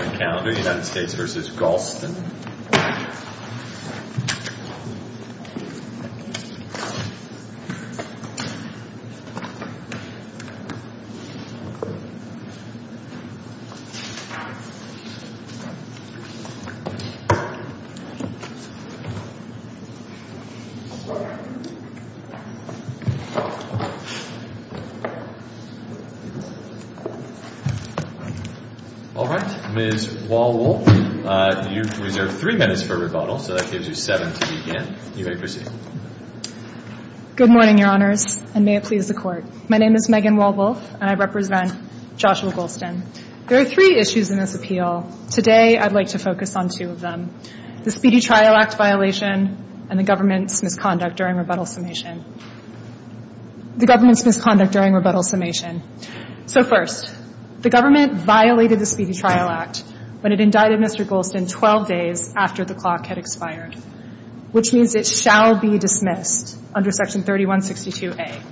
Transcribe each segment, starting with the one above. All right, Ms. Golston, you may be seated. Ms. Wall-Wolf, you've reserved three minutes for rebuttal, so that gives you seven to begin. You may proceed. Good morning, Your Honors, and may it please the Court. My name is Megan Wall-Wolf, and I represent Joshua Golston. There are three issues in this appeal. Today I'd like to focus on two of them, the Speedy Trial Act violation and the government's misconduct during rebuttal summation. The government's misconduct during rebuttal summation. So first, the government violated the Speedy Trial Act when it indicted Mr. Golston 12 days after the clock had expired, which means it shall be dismissed under Section 3162A.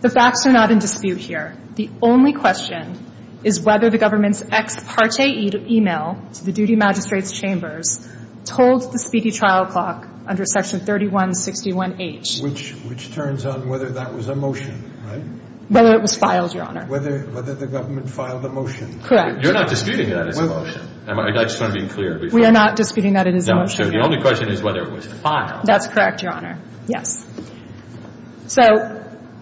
The facts are not in dispute here. The only question is whether the government's ex parte email to the duty magistrate's chambers told the Speedy Trial Clock under Section 3161H. Which turns on whether that was a motion, right? Whether it was filed, Your Honor. Whether the government filed a motion. Correct. You're not disputing that it's a motion. I just want to be clear. We are not disputing that it is a motion. So the only question is whether it was filed. That's correct, Your Honor. Yes. So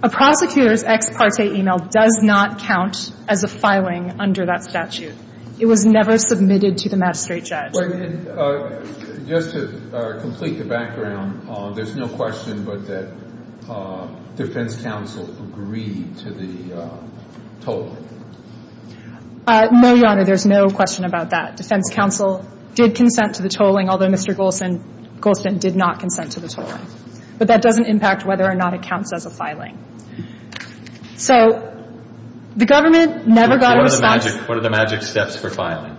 a prosecutor's ex parte email does not count as a filing under that statute. It was never submitted to the magistrate judge. Just to complete the background, there's no question but that defense counsel agreed to the tolling. No, Your Honor. There's no question about that. Defense counsel did consent to the tolling, although Mr. Golston did not consent to the tolling. But that doesn't impact whether or not it counts as a filing. So the government never got a response. What are the magic steps for filing?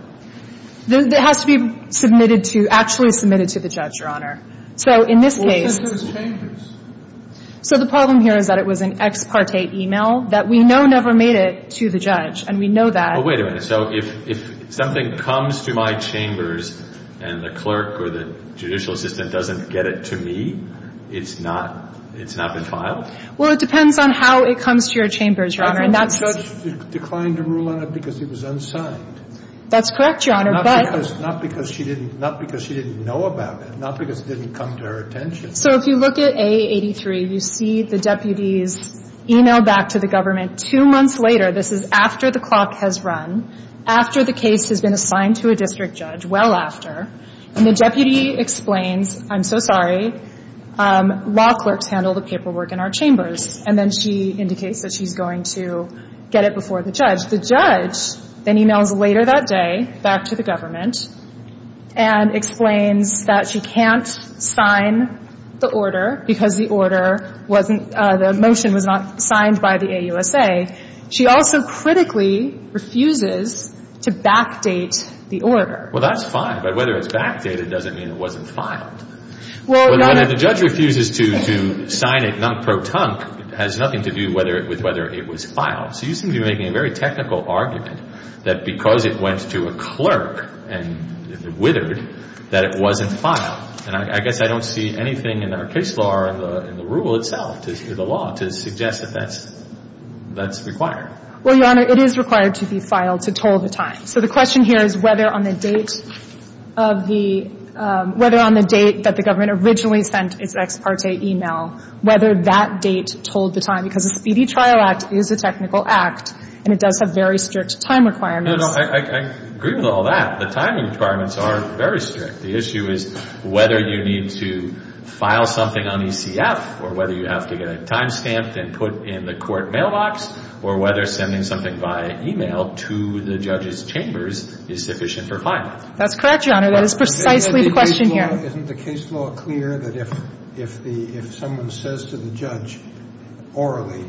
It has to be submitted to, actually submitted to the judge, Your Honor. So in this case. Well, it says there's changes. So the problem here is that it was an ex parte email that we know never made it to the judge. And we know that. Well, wait a minute. So if something comes to my chambers and the clerk or the judicial assistant doesn't get it to me, it's not been filed? Well, it depends on how it comes to your chambers, Your Honor. The judge declined to rule on it because it was unsigned. That's correct, Your Honor. Not because she didn't know about it. Not because it didn't come to her attention. So if you look at A83, you see the deputies email back to the government two months later. This is after the clock has run, after the case has been assigned to a district judge, well after. And the deputy explains, I'm so sorry, law clerks handle the paperwork in our chambers. And then she indicates that she's going to get it before the judge. The judge then emails later that day back to the government and explains that she can't sign the order because the order wasn't, the motion was not signed by the AUSA. She also critically refuses to backdate the order. Well, that's fine. But whether it's backdated doesn't mean it wasn't filed. Well, Your Honor. But if the judge refuses to sign it non-pro-tunc, it has nothing to do with whether it was filed. So you seem to be making a very technical argument that because it went to a clerk and it withered, that it wasn't filed. And I guess I don't see anything in our case law or in the rule itself, the law, to suggest that that's required. Well, Your Honor, it is required to be filed to toll the time. So the question here is whether on the date of the, whether on the date that the government originally sent its ex parte email, whether that date told the time. Because the Speedy Trial Act is a technical act, and it does have very strict time requirements. No, no. I agree with all that. The time requirements are very strict. The issue is whether you need to file something on ECF or whether you have to get a time stamp and put in the court mailbox or whether sending something via email to the judge's chambers is sufficient for filing. That's correct, Your Honor. That is precisely the question here. Isn't the case law clear that if someone says to the judge orally,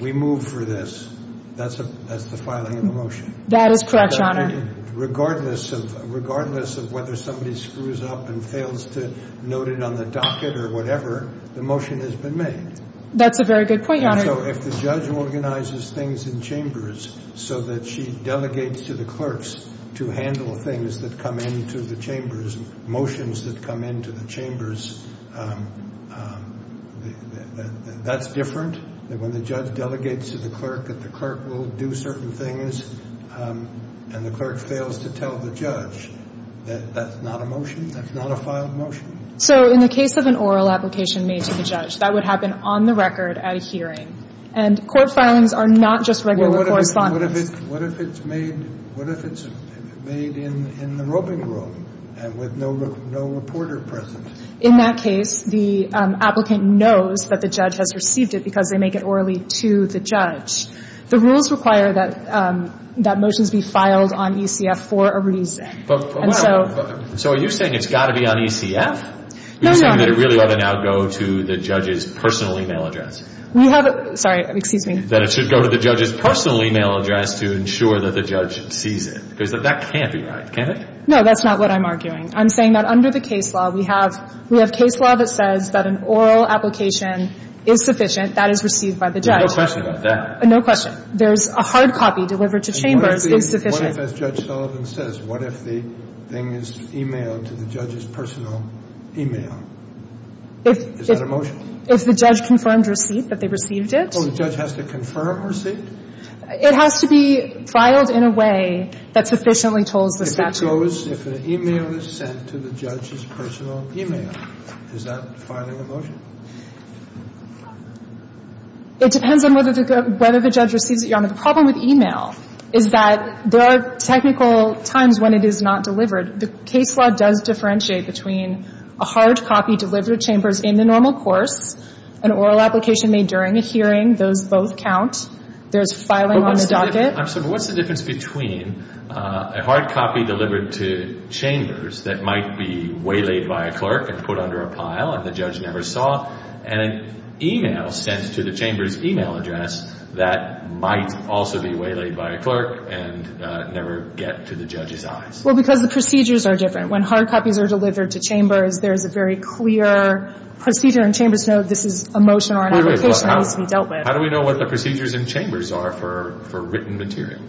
we move for this, that's the filing of the motion? That is correct, Your Honor. Regardless of whether somebody screws up and fails to note it on the docket or whatever, the motion has been made. That's a very good point, Your Honor. So if the judge organizes things in chambers so that she delegates to the clerks to handle things that come into the chambers, motions that come into the chambers, that's different? That when the judge delegates to the clerk that the clerk will do certain things, and the clerk fails to tell the judge that that's not a motion, that's not a filed motion? So in the case of an oral application made to the judge, that would happen on the record at a hearing. And court filings are not just regular correspondence. What if it's made in the roping room and with no reporter present? In that case, the applicant knows that the judge has received it because they make it orally to the judge. The rules require that motions be filed on ECF for a reason. So are you saying it's got to be on ECF? No, no. Are you saying that it really ought to now go to the judge's personal e-mail address? We have a — sorry. Excuse me. That it should go to the judge's personal e-mail address to ensure that the judge sees it? Because that can't be right, can it? No, that's not what I'm arguing. I'm saying that under the case law, we have case law that says that an oral application is sufficient. That is received by the judge. No question about that. No question. There's a hard copy delivered to chambers is sufficient. What if, as Judge Sullivan says, what if the thing is e-mailed to the judge's personal e-mail? Is that a motion? If the judge confirmed receipt that they received it. Oh, the judge has to confirm receipt? It has to be filed in a way that sufficiently tells the statute. If it goes — if an e-mail is sent to the judge's personal e-mail, is that filing a motion? It depends on whether the judge receives it, Your Honor. The problem with e-mail is that there are technical times when it is not delivered. The case law does differentiate between a hard copy delivered to chambers in the normal course, an oral application made during a hearing. Those both count. There's filing on the docket. What's the difference between a hard copy delivered to chambers that might be waylaid by a clerk and put under a pile and the judge never saw, and an e-mail sent to the chamber's e-mail address that might also be waylaid by a clerk and never get to the judge's eyes? Well, because the procedures are different. When hard copies are delivered to chambers, there is a very clear procedure and chambers know this is a motion or an application that needs to be dealt with. How do we know what the procedures in chambers are for written material?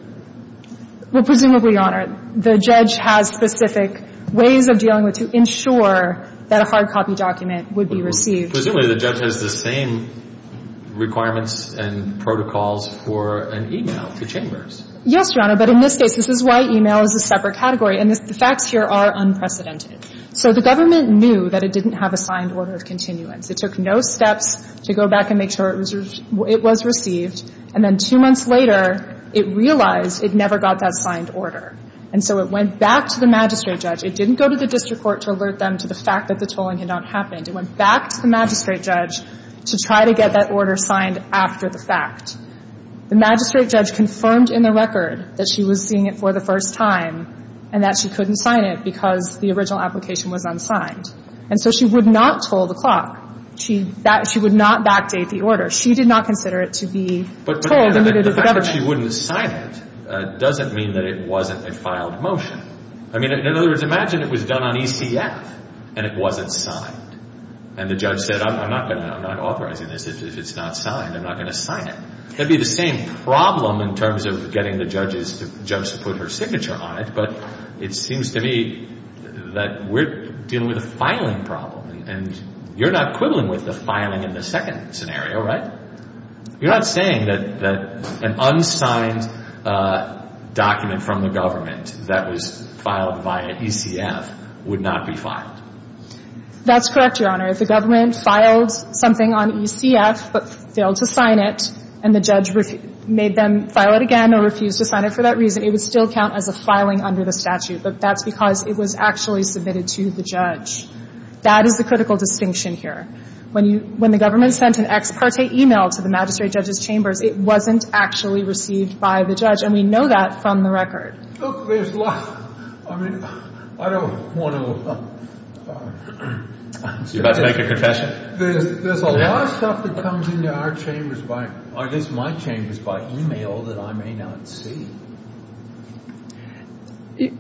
Well, presumably, Your Honor, the judge has specific ways of dealing with to ensure that a hard copy document would be received. Presumably, the judge has the same requirements and protocols for an e-mail to chambers. Yes, Your Honor. But in this case, this is why e-mail is a separate category. And the facts here are unprecedented. So the government knew that it didn't have a signed order of continuance. It took no steps to go back and make sure it was received. And then two months later, it realized it never got that signed order. And so it went back to the magistrate judge. It didn't go to the district court to alert them to the fact that the tolling had not happened. It went back to the magistrate judge to try to get that order signed after the fact. The magistrate judge confirmed in the record that she was seeing it for the first time and that she couldn't sign it because the original application was unsigned. And so she would not toll the clock. She would not backdate the order. She did not consider it to be told and admitted to the government. But the fact that she wouldn't sign it doesn't mean that it wasn't a filed motion. I mean, in other words, imagine it was done on ECF and it wasn't signed. And the judge said, I'm not authorizing this. If it's not signed, I'm not going to sign it. That would be the same problem in terms of getting the judge to put her signature on it. But it seems to me that we're dealing with a filing problem. And you're not quibbling with the filing in the second scenario, right? You're not saying that an unsigned document from the government that was filed via ECF would not be filed. That's correct, Your Honor. If the government filed something on ECF but failed to sign it and the judge made them file it again or refused to sign it for that reason, it would still count as a filing under the statute. But that's because it was actually submitted to the judge. That is the critical distinction here. When the government sent an ex parte e-mail to the magistrate judge's chambers, it wasn't actually received by the judge. And we know that from the record. Look, there's a lot. I mean, I don't want to— You're about to make a confession. There's a lot of stuff that comes into our chambers by—I guess my chambers by e-mail that I may not see.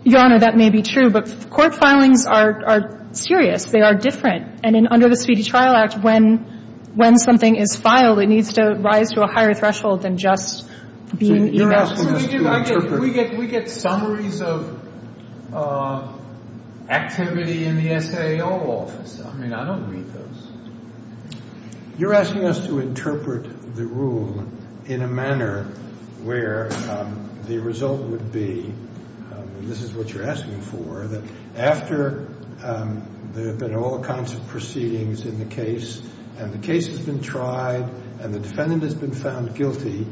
Your Honor, that may be true. But court filings are serious. They are different. And under the Speedy Trial Act, when something is filed, it needs to rise to a higher threshold than just being e-mailed. So you're asking us to interpret— We get summaries of activity in the SAO office. I mean, I don't read those. You're asking us to interpret the rule in a manner where the result would be, and this is what you're asking for, that after there have been all kinds of proceedings in the case and the case has been tried and the defendant has been found guilty,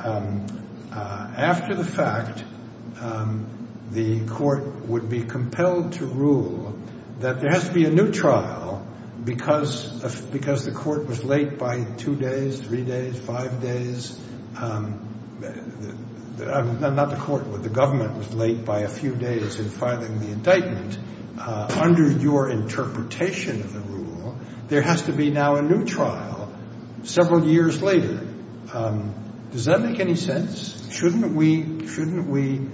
after the fact, the court would be compelled to rule that there has to be a new trial because the court was late by two days, three days, five days. I'm not the court. The government was late by a few days in filing the indictment. Under your interpretation of the rule, there has to be now a new trial several years later. Does that make any sense? Shouldn't we seek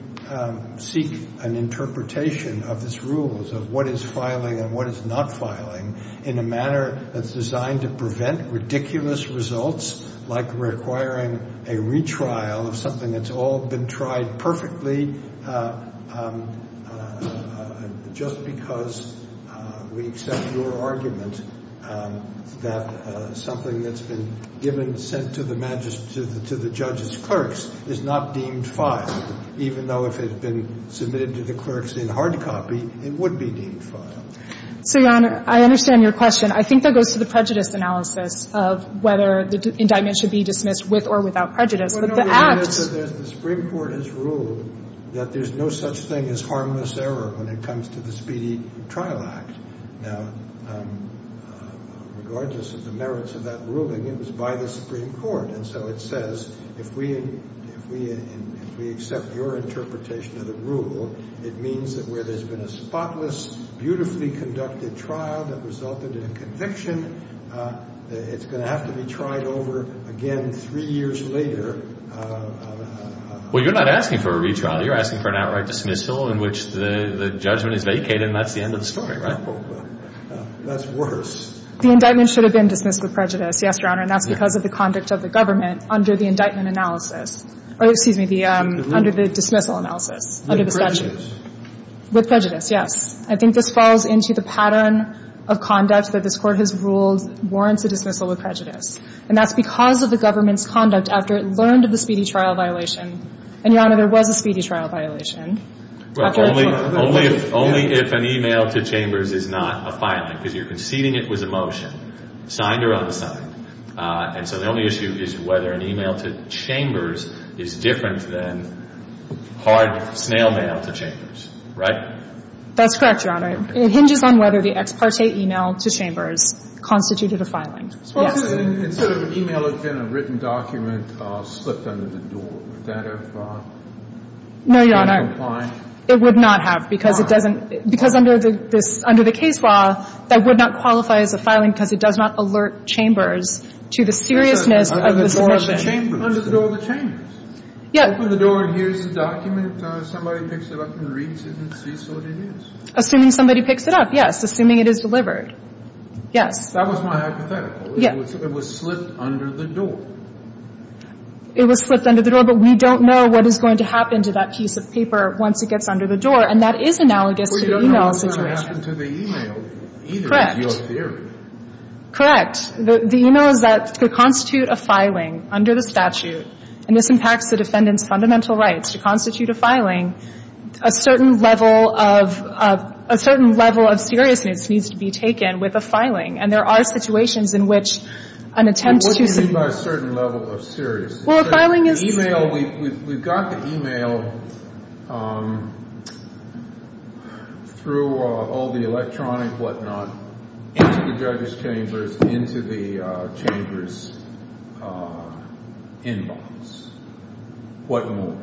an interpretation of these rules of what is filing and what is not filing in a manner that's designed to prevent ridiculous results, like requiring a retrial of something that's all been tried perfectly, just because we accept your argument that something that's been given, sent to the judge's clerks is not deemed filed, even though if it had been submitted to the clerks in hard copy, it would be deemed filed? So, Your Honor, I understand your question. I think that goes to the prejudice analysis of whether the indictment should be dismissed with or without prejudice. But the act — The Supreme Court has ruled that there's no such thing as harmless error when it comes to the Speedy Trial Act. Now, regardless of the merits of that ruling, it was by the Supreme Court. And so it says, if we accept your interpretation of the rule, it means that where there's been a spotless, beautifully conducted trial that resulted in a conviction, it's going to have to be tried over again three years later. Well, you're not asking for a retrial. You're asking for an outright dismissal in which the judgment is vacated and that's the end of the story, right? That's worse. The indictment should have been dismissed with prejudice, yes, Your Honor, and that's because of the conduct of the government under the indictment analysis. Excuse me, under the dismissal analysis, under the statute. With prejudice, yes. I think this falls into the pattern of conduct that this Court has ruled warrants a dismissal with prejudice. And that's because of the government's conduct after it learned of the speedy trial violation. And, Your Honor, there was a speedy trial violation. Well, only if an e-mail to Chambers is not a filing, because you're conceding it was a motion, signed or unsigned. And so the only issue is whether an e-mail to Chambers is different than hard snail mail to Chambers, right? That's correct, Your Honor. It hinges on whether the ex parte e-mail to Chambers constituted a filing. Yes. And instead of an e-mail, it's been a written document slipped under the door. Would that have been fine? No, Your Honor. It would not have because it doesn't – because under the case law, that would not qualify as a filing because it does not alert Chambers to the seriousness of this motion. Under the door of the Chambers? Yes. Open the door and here's the document. Somebody picks it up and reads it and sees what it is. Assuming somebody picks it up, yes. Assuming it is delivered. Yes. That was my hypothetical. Yes. It was slipped under the door. It was slipped under the door, but we don't know what is going to happen to that piece of paper once it gets under the door. And that is analogous to the e-mail situation. But it doesn't happen to the e-mail either, in your theory. Correct. The e-mail is that to constitute a filing under the statute, and this impacts the defendant's fundamental rights, to constitute a filing, a certain level of – a certain level of seriousness needs to be taken with a filing. And there are situations in which an attempt to – It wouldn't be by a certain level of seriousness. Well, a filing is – The e-mail – we've got the e-mail through all the electronic whatnot into the judge's chambers, into the chamber's inbox. What more?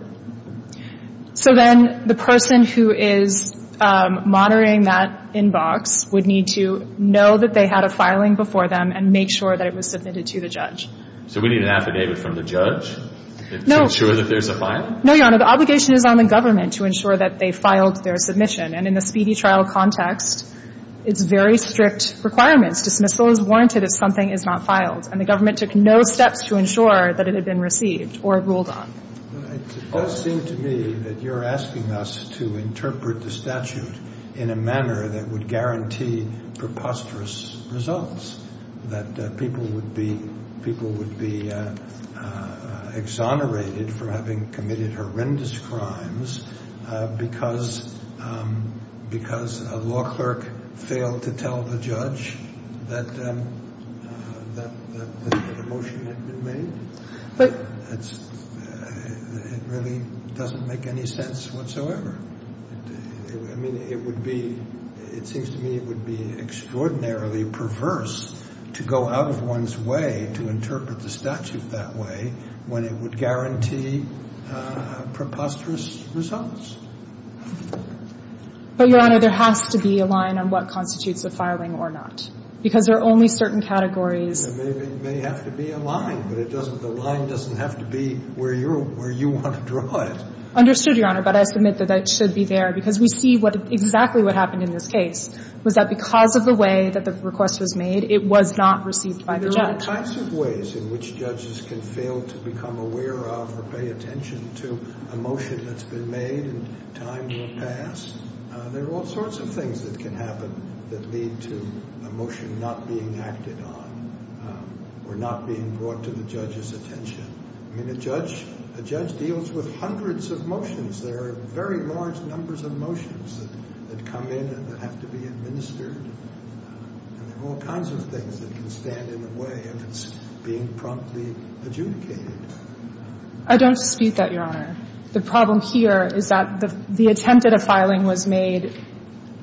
So then the person who is monitoring that inbox would need to know that they had a filing before them and make sure that it was submitted to the judge. So we need an affidavit from the judge to ensure that there's a filing? No, Your Honor. The obligation is on the government to ensure that they filed their submission. And in the speedy trial context, it's very strict requirements. Dismissal is warranted if something is not filed. And the government took no steps to ensure that it had been received or ruled on. It does seem to me that you're asking us to interpret the statute in a manner that would guarantee preposterous results, that people would be exonerated for having committed horrendous crimes because a law clerk failed to tell the judge that the motion had been made. It really doesn't make any sense whatsoever. I mean, it would be — it seems to me it would be extraordinarily perverse to go out of one's way to interpret the statute that way when it would guarantee preposterous results. But, Your Honor, there has to be a line on what constitutes a filing or not, because there are only certain categories. There may have to be a line, but it doesn't — the line doesn't have to be where you want to draw it. I understood, Your Honor, but I submit that that should be there, because we see what — exactly what happened in this case, was that because of the way that the request was made, it was not received by the judge. There are all kinds of ways in which judges can fail to become aware of or pay attention to a motion that's been made and time will pass. There are all sorts of things that can happen that lead to a motion not being acted on or not being brought to the judge's attention. I mean, a judge — a judge deals with hundreds of motions. There are very large numbers of motions that come in and that have to be administered. And there are all kinds of things that can stand in the way if it's being promptly adjudicated. I don't dispute that, Your Honor. The problem here is that the attempt at a filing was made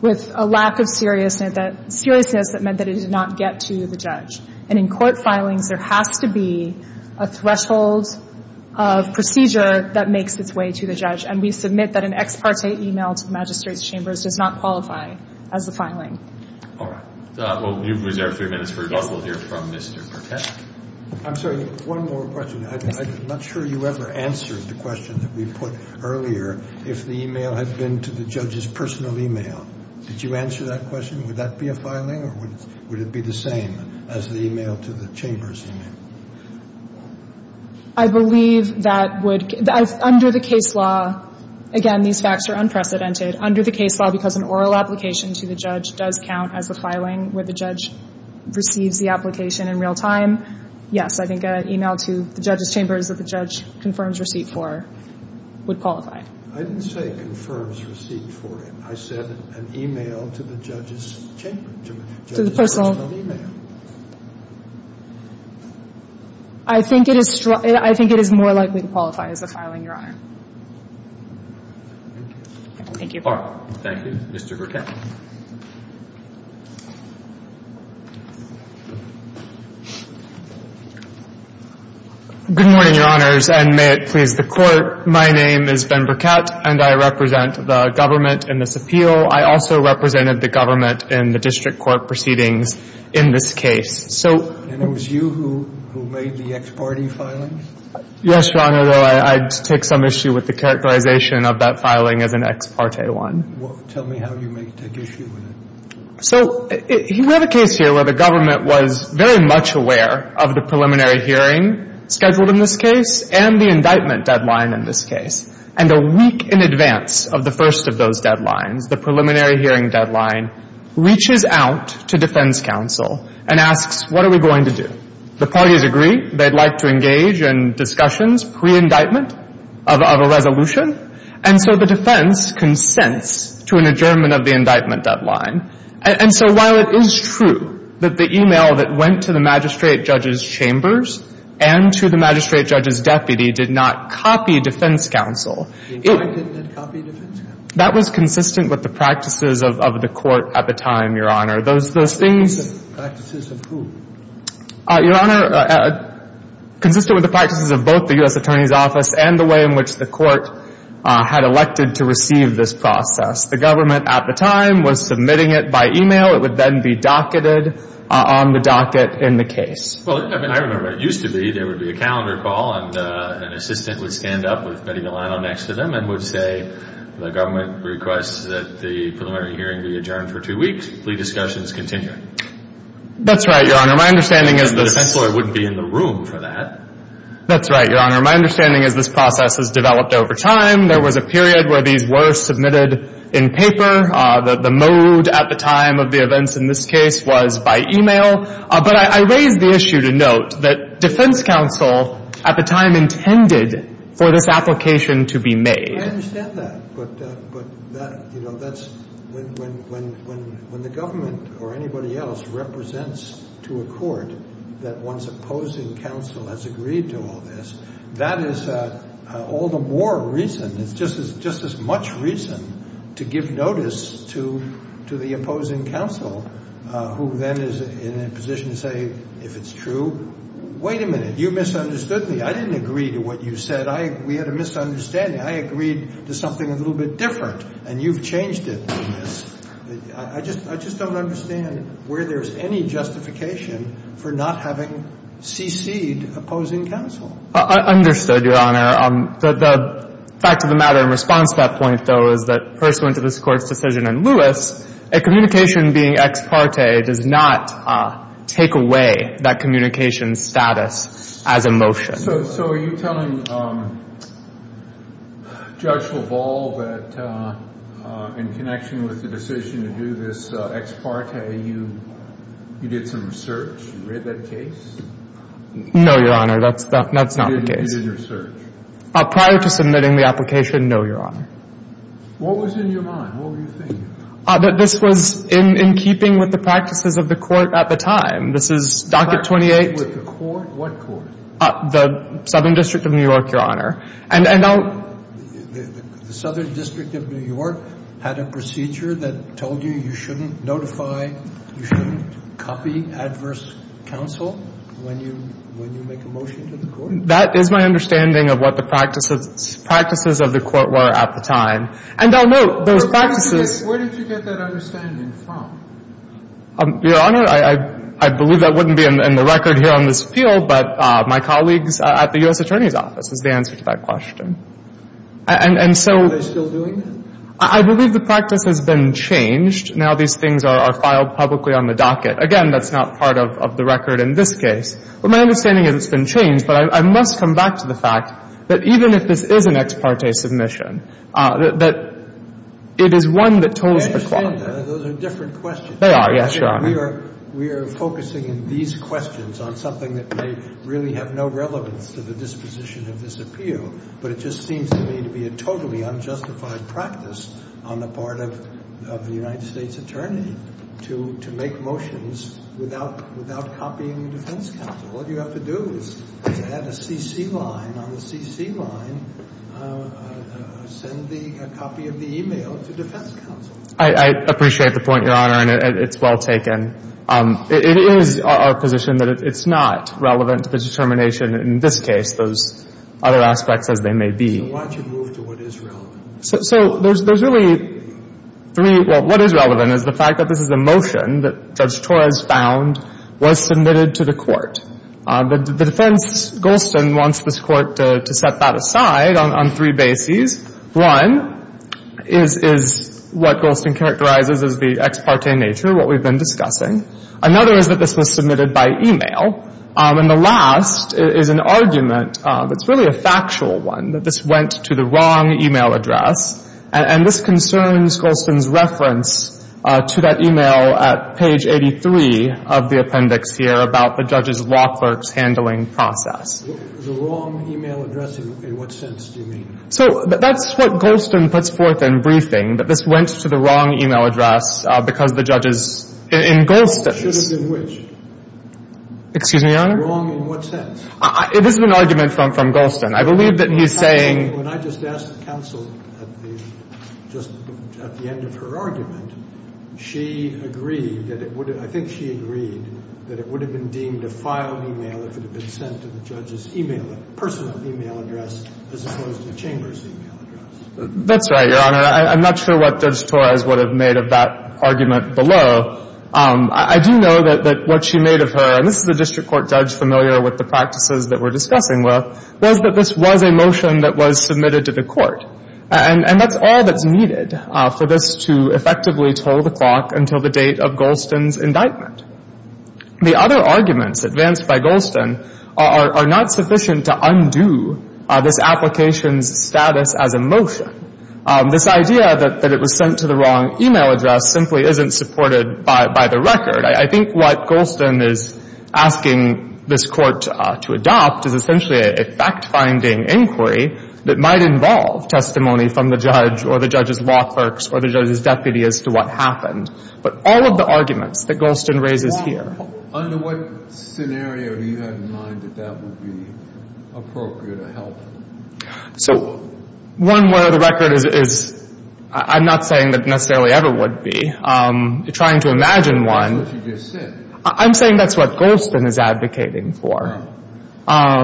with a lack of seriousness that meant that it did not get to the judge. And in court filings, there has to be a threshold of procedure that makes its way to the judge. And we submit that an ex parte email to the Magistrate's Chambers does not qualify as the filing. All right. Well, you've reserved three minutes for us. We'll hear from Mr. Pertek. I'm sorry. One more question. I'm not sure you ever answered the question that we put earlier, if the email had been to the judge's personal email. Did you answer that question? Would that be a filing? Or would it be the same as the email to the Chamber's email? I believe that would — under the case law, again, these facts are unprecedented. Under the case law, because an oral application to the judge does count as a filing where the judge receives the application in real time, yes, I think an email to the judge's chambers that the judge confirms receipt for would qualify. I didn't say confirms receipt for it. I said an email to the judge's chamber, to the judge's personal email. I think it is — I think it is more likely to qualify as a filing, Your Honor. Thank you. All right. Thank you. Mr. Burkett. Good morning, Your Honors, and may it please the Court. My name is Ben Burkett, and I represent the government in this appeal. I also represented the government in the district court proceedings in this case. So — And it was you who made the ex parte filing? Yes, Your Honor, though I took some issue with the characterization of that filing as an ex parte one. Tell me how you may take issue with it. So we have a case here where the government was very much aware of the preliminary hearing scheduled in this case and the indictment deadline in this case. And a week in advance of the first of those deadlines, the preliminary hearing deadline, reaches out to defense counsel and asks, what are we going to do? The parties agree. They'd like to engage in discussions pre-indictment of a resolution. And so the defense consents to an adjournment of the indictment deadline. And so while it is true that the e-mail that went to the magistrate judge's chambers and to the magistrate judge's deputy did not copy defense counsel — The indictment didn't copy defense counsel? That was consistent with the practices of the Court at the time, Your Honor. Those things — Practices of who? Your Honor, consistent with the practices of both the U.S. Attorney's Office and the way in which the Court had elected to receive this process, the government at the time was submitting it by e-mail. It would then be docketed on the docket in the case. Well, I mean, I remember it used to be there would be a calendar call and an assistant would stand up with Betty Milano next to them and would say the government requests that the preliminary hearing be adjourned for two weeks. Plea discussions continue. That's right, Your Honor. My understanding is this — The defense lawyer wouldn't be in the room for that. That's right, Your Honor. My understanding is this process has developed over time. There was a period where these were submitted in paper. The mode at the time of the events in this case was by e-mail. But I raise the issue to note that defense counsel at the time intended for this application to be made. I understand that. But, you know, that's — when the government or anybody else represents to a court that one's opposing counsel has agreed to all this, that is all the more reason, it's just as much reason to give notice to the opposing counsel who then is in a position to say, if it's true, wait a minute, you misunderstood me. I didn't agree to what you said. We had a misunderstanding. I agreed to something a little bit different, and you've changed it. I just don't understand where there's any justification for not having cc'd opposing counsel. I understood, Your Honor. The fact of the matter in response to that point, though, is that pursuant to this Court's decision in Lewis, a communication being ex parte does not take away that communication status as a motion. So are you telling Judge LaValle that in connection with the decision to do this ex parte, you did some research, you read that case? No, Your Honor. That's not the case. You did your research. Prior to submitting the application, no, Your Honor. What was in your mind? What were you thinking? That this was in keeping with the practices of the Court at the time. This is Docket 28. In keeping with the Court? What Court? The Southern District of New York, Your Honor. And I'll — The Southern District of New York had a procedure that told you you shouldn't notify, you shouldn't copy adverse counsel when you make a motion to the Court. That is my understanding of what the practices of the Court were at the time. And I'll note those practices — Where did you get that understanding from? Your Honor, I believe that wouldn't be in the record here on this field, but my colleagues at the U.S. Attorney's Office is the answer to that question. And so — Are they still doing that? I believe the practice has been changed. Now these things are filed publicly on the docket. Again, that's not part of the record in this case. But my understanding is it's been changed. But I must come back to the fact that even if this is an ex parte submission, that it is one that tolls the clock. I understand that. Those are different questions. They are, yes, Your Honor. We are focusing in these questions on something that may really have no relevance to the disposition of this appeal, but it just seems to me to be a totally unjustified practice on the part of the United States Attorney to make motions without copying the defense counsel. All you have to do is add a CC line. On the CC line, send a copy of the e-mail to defense counsel. I appreciate the point, Your Honor, and it's well taken. It is our position that it's not relevant to the determination in this case, those other aspects as they may be. So why did you move to what is relevant? So there's really three. Well, what is relevant is the fact that this is a motion that Judge Torres found was submitted to the court. The defense, Golston, wants this court to set that aside on three bases. One is what Golston characterizes as the ex parte nature, what we've been discussing. Another is that this was submitted by e-mail. And the last is an argument that's really a factual one, that this went to the wrong e-mail address. And this concerns Golston's reference to that e-mail at page 83 of the appendix here about the judge's law clerk's handling process. The wrong e-mail address, in what sense do you mean? So that's what Golston puts forth in briefing, that this went to the wrong e-mail address because the judge is in Golston's. It should have been which? Excuse me, Your Honor? Wrong in what sense? It is an argument from Golston. I believe that he's saying — When I just asked the counsel at the — just at the end of her argument, she agreed that it would have — I think she agreed that it would have been deemed a filed e-mail if it had been sent to the judge's e-mail — personal e-mail address as opposed to the chamber's e-mail address. That's right, Your Honor. I'm not sure what Judge Torres would have made of that argument below. I do know that what she made of her — and this is a district court judge familiar with the practices that we're discussing with — was that this was a motion that was submitted to the court. And that's all that's needed for this to effectively toll the clock until the date of Golston's indictment. The other arguments advanced by Golston are not sufficient to undo this application's status as a motion. This idea that it was sent to the wrong e-mail address simply isn't supported by the record. I think what Golston is asking this Court to adopt is essentially a fact-finding inquiry that might involve testimony from the judge or the judge's law clerks or the judge's deputy as to what happened. But all of the arguments that Golston raises here — Well, under what scenario do you have in mind that that would be appropriate or helpful? So one where the record is — I'm not saying that necessarily ever would be. I'm trying to imagine one. I'm saying that's what Golston is advocating for,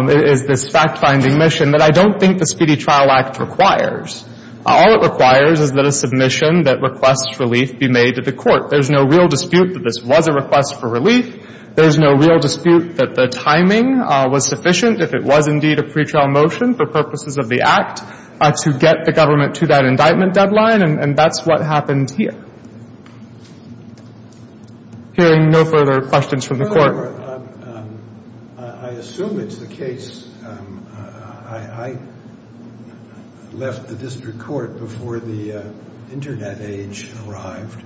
is this fact-finding mission that I don't think the Speedy Trial Act requires. All it requires is that a submission that requests relief be made to the court. There's no real dispute that this was a request for relief. There's no real dispute that the timing was sufficient, if it was indeed a pretrial motion for purposes of the Act, to get the government to that indictment deadline. And that's what happened here. Hearing no further questions from the Court. I assume it's the case — I left the district court before the Internet age arrived,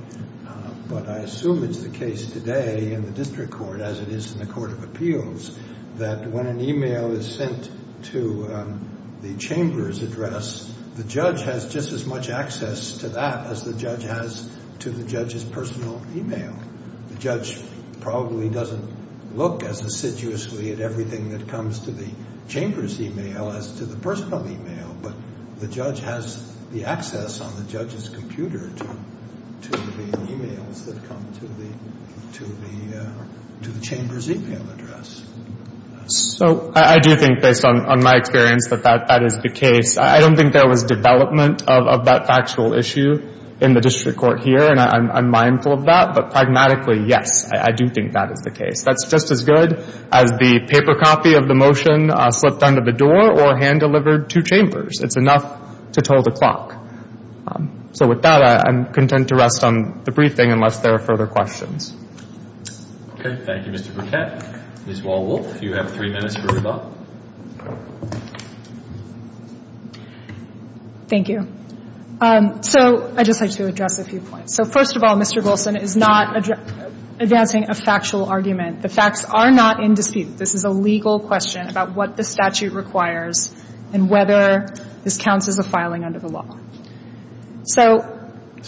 but I assume it's the case today in the district court, as it is in the court of appeals, that when an e-mail is sent to the chamber's address, the judge has just as much access to that as the judge has to the judge's personal e-mail. The judge probably doesn't look as assiduously at everything that comes to the chamber's e-mail as to the personal e-mail, but the judge has the access on the judge's computer to the e-mails that come to the chamber's e-mail address. So I do think, based on my experience, that that is the case. I don't think there was development of that factual issue in the district court here, and I'm mindful of that, but pragmatically, yes, I do think that is the case. That's just as good as the paper copy of the motion slipped under the door or hand-delivered to chambers. It's enough to toll the clock. So with that, I'm content to rest on the briefing unless there are further questions. Okay. Thank you, Mr. Burkett. Ms. Wall-Wolf, you have three minutes for rebuttal. Thank you. So I'd just like to address a few points. So first of all, Mr. Golsan is not advancing a factual argument. The facts are not in dispute. This is a legal question about what the statute requires and whether this counts as a filing under the law. So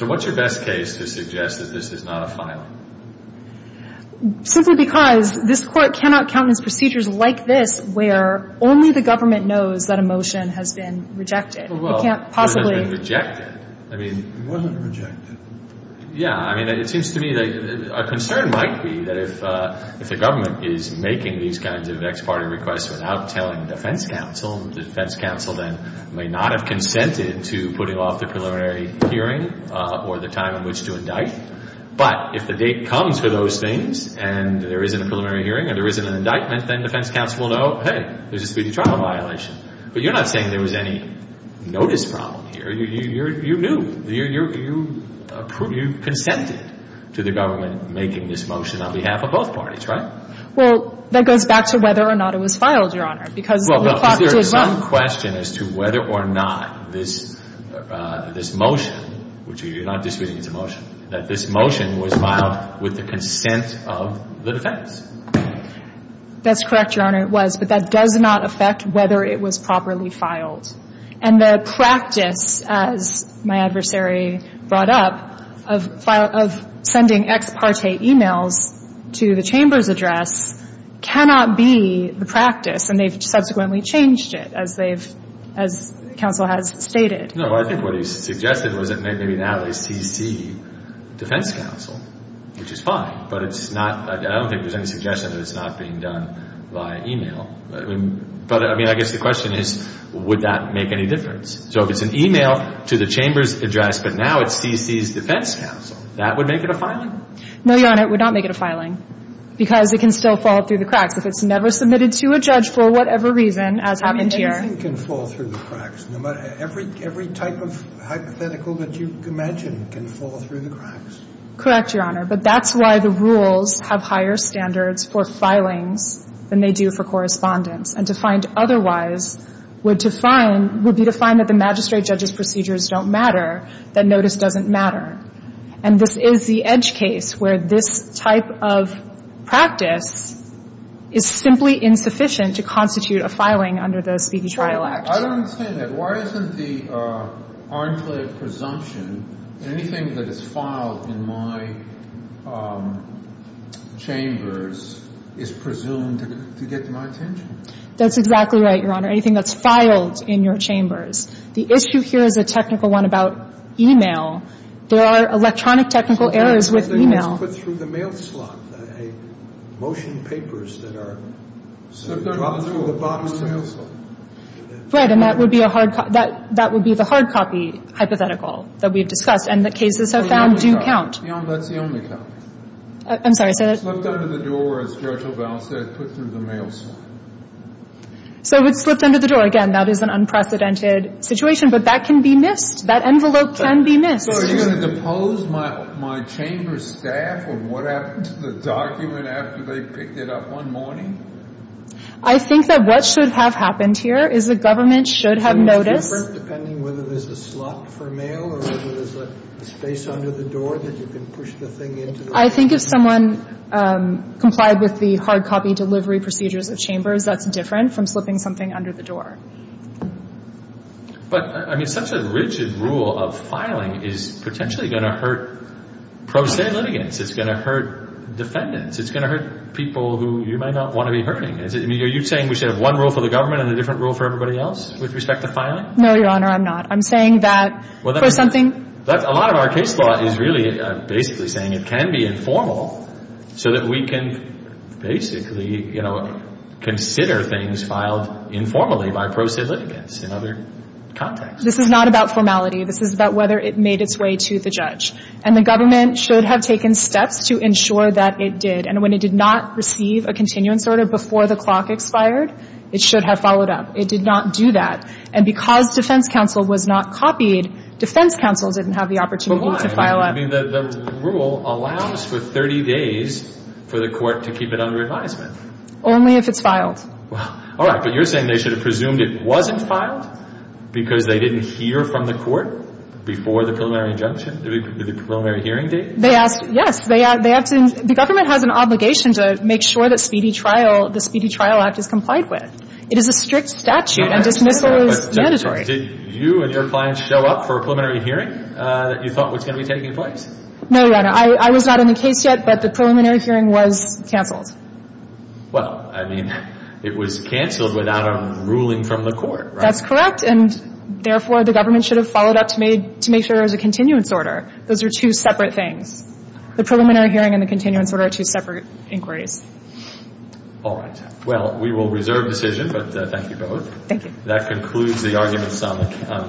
what's your best case to suggest that this is not a filing? Simply because this Court cannot countenance procedures like this where only the government knows that a motion has been rejected. It can't possibly be rejected. It wasn't rejected. Yeah. I mean, it seems to me that a concern might be that if the government is making these kinds of ex parte requests without telling the defense counsel, the defense counsel then may not have consented to putting off the preliminary hearing or the time in which to indict. But if the date comes for those things and there is an preliminary hearing and there is an indictment, then defense counsel will know, hey, there's a speedy trial violation. But you're not saying there was any notice problem here. You knew. You consented to the government making this motion on behalf of both parties, right? Well, that goes back to whether or not it was filed, Your Honor, because the clock did run. Well, is there some question as to whether or not this motion, which you're not disputing it's a motion, that this motion was filed with the consent of the defense? That's correct, Your Honor. It was. But that does not affect whether it was properly filed. And the practice, as my adversary brought up, of sending ex parte emails to the Chamber's address cannot be the practice. And they've subsequently changed it, as they've, as counsel has stated. No, I think what he suggested was that maybe now it's C.C. defense counsel, which is fine. But it's not, I don't think there's any suggestion that it's not being done by email. But, I mean, I guess the question is, would that make any difference? So if it's an email to the Chamber's address, but now it's C.C.'s defense counsel, that would make it a filing? No, Your Honor, it would not make it a filing, because it can still fall through the cracks if it's never submitted to a judge for whatever reason, as happened here. A filing can fall through the cracks. Every type of hypothetical that you can imagine can fall through the cracks. Correct, Your Honor. But that's why the rules have higher standards for filings than they do for correspondence. And to find otherwise would define, would be to find that the magistrate judge's procedures don't matter, that notice doesn't matter. And this is the edge case where this type of practice is simply insufficient to constitute a filing under the Speedy Trial Act. I don't understand that. Why isn't the Arncliffe presumption anything that is filed in my chambers is presumed to get my attention? That's exactly right, Your Honor. Anything that's filed in your chambers. The issue here is a technical one about email. There are electronic technical errors with email. It's put through the mail slot. Motion papers that are dropped through the bottom of the mail slot. Right. And that would be a hard copy. That would be the hard copy hypothetical that we've discussed. And the cases I've found do count. That's the only count. I'm sorry. Slipped under the door, as Judge LaValle said, put through the mail slot. So it slipped under the door. Again, that is an unprecedented situation. But that can be missed. That envelope can be missed. So are you going to depose my chamber staff on what happened to the document after they picked it up one morning? I think that what should have happened here is the government should have noticed. So it's different depending whether there's a slot for mail or whether there's a space under the door that you can push the thing into. I think if someone complied with the hard copy delivery procedures of chambers, that's different from slipping something under the door. But, I mean, such a rigid rule of filing is potentially going to hurt pro se litigants. It's going to hurt defendants. It's going to hurt people who you might not want to be hurting. Are you saying we should have one rule for the government and a different rule for everybody else with respect to filing? No, Your Honor, I'm not. I'm saying that for something. A lot of our case law is really basically saying it can be informal so that we can basically consider things filed informally by pro se litigants in other contexts. This is not about formality. This is about whether it made its way to the judge. And the government should have taken steps to ensure that it did. And when it did not receive a continuance order before the clock expired, it should have followed up. It did not do that. And because defense counsel was not copied, defense counsel didn't have the opportunity to file up. I mean, the rule allows for 30 days for the court to keep it under advisement. Only if it's filed. All right. But you're saying they should have presumed it wasn't filed because they didn't hear from the court before the preliminary injunction? The preliminary hearing date? Yes. The government has an obligation to make sure that the Speedy Trial Act is complied with. It is a strict statute and dismissal is mandatory. Did you and your clients show up for a preliminary hearing that you thought was going to be taking place? No, Your Honor. I was not in the case yet, but the preliminary hearing was canceled. Well, I mean, it was canceled without a ruling from the court, right? That's correct. And therefore, the government should have followed up to make sure there was a continuance order. Those are two separate things. The preliminary hearing and the continuance order are two separate inquiries. All right. Well, we will reserve decision, but thank you both. Thank you. That concludes the argument summit.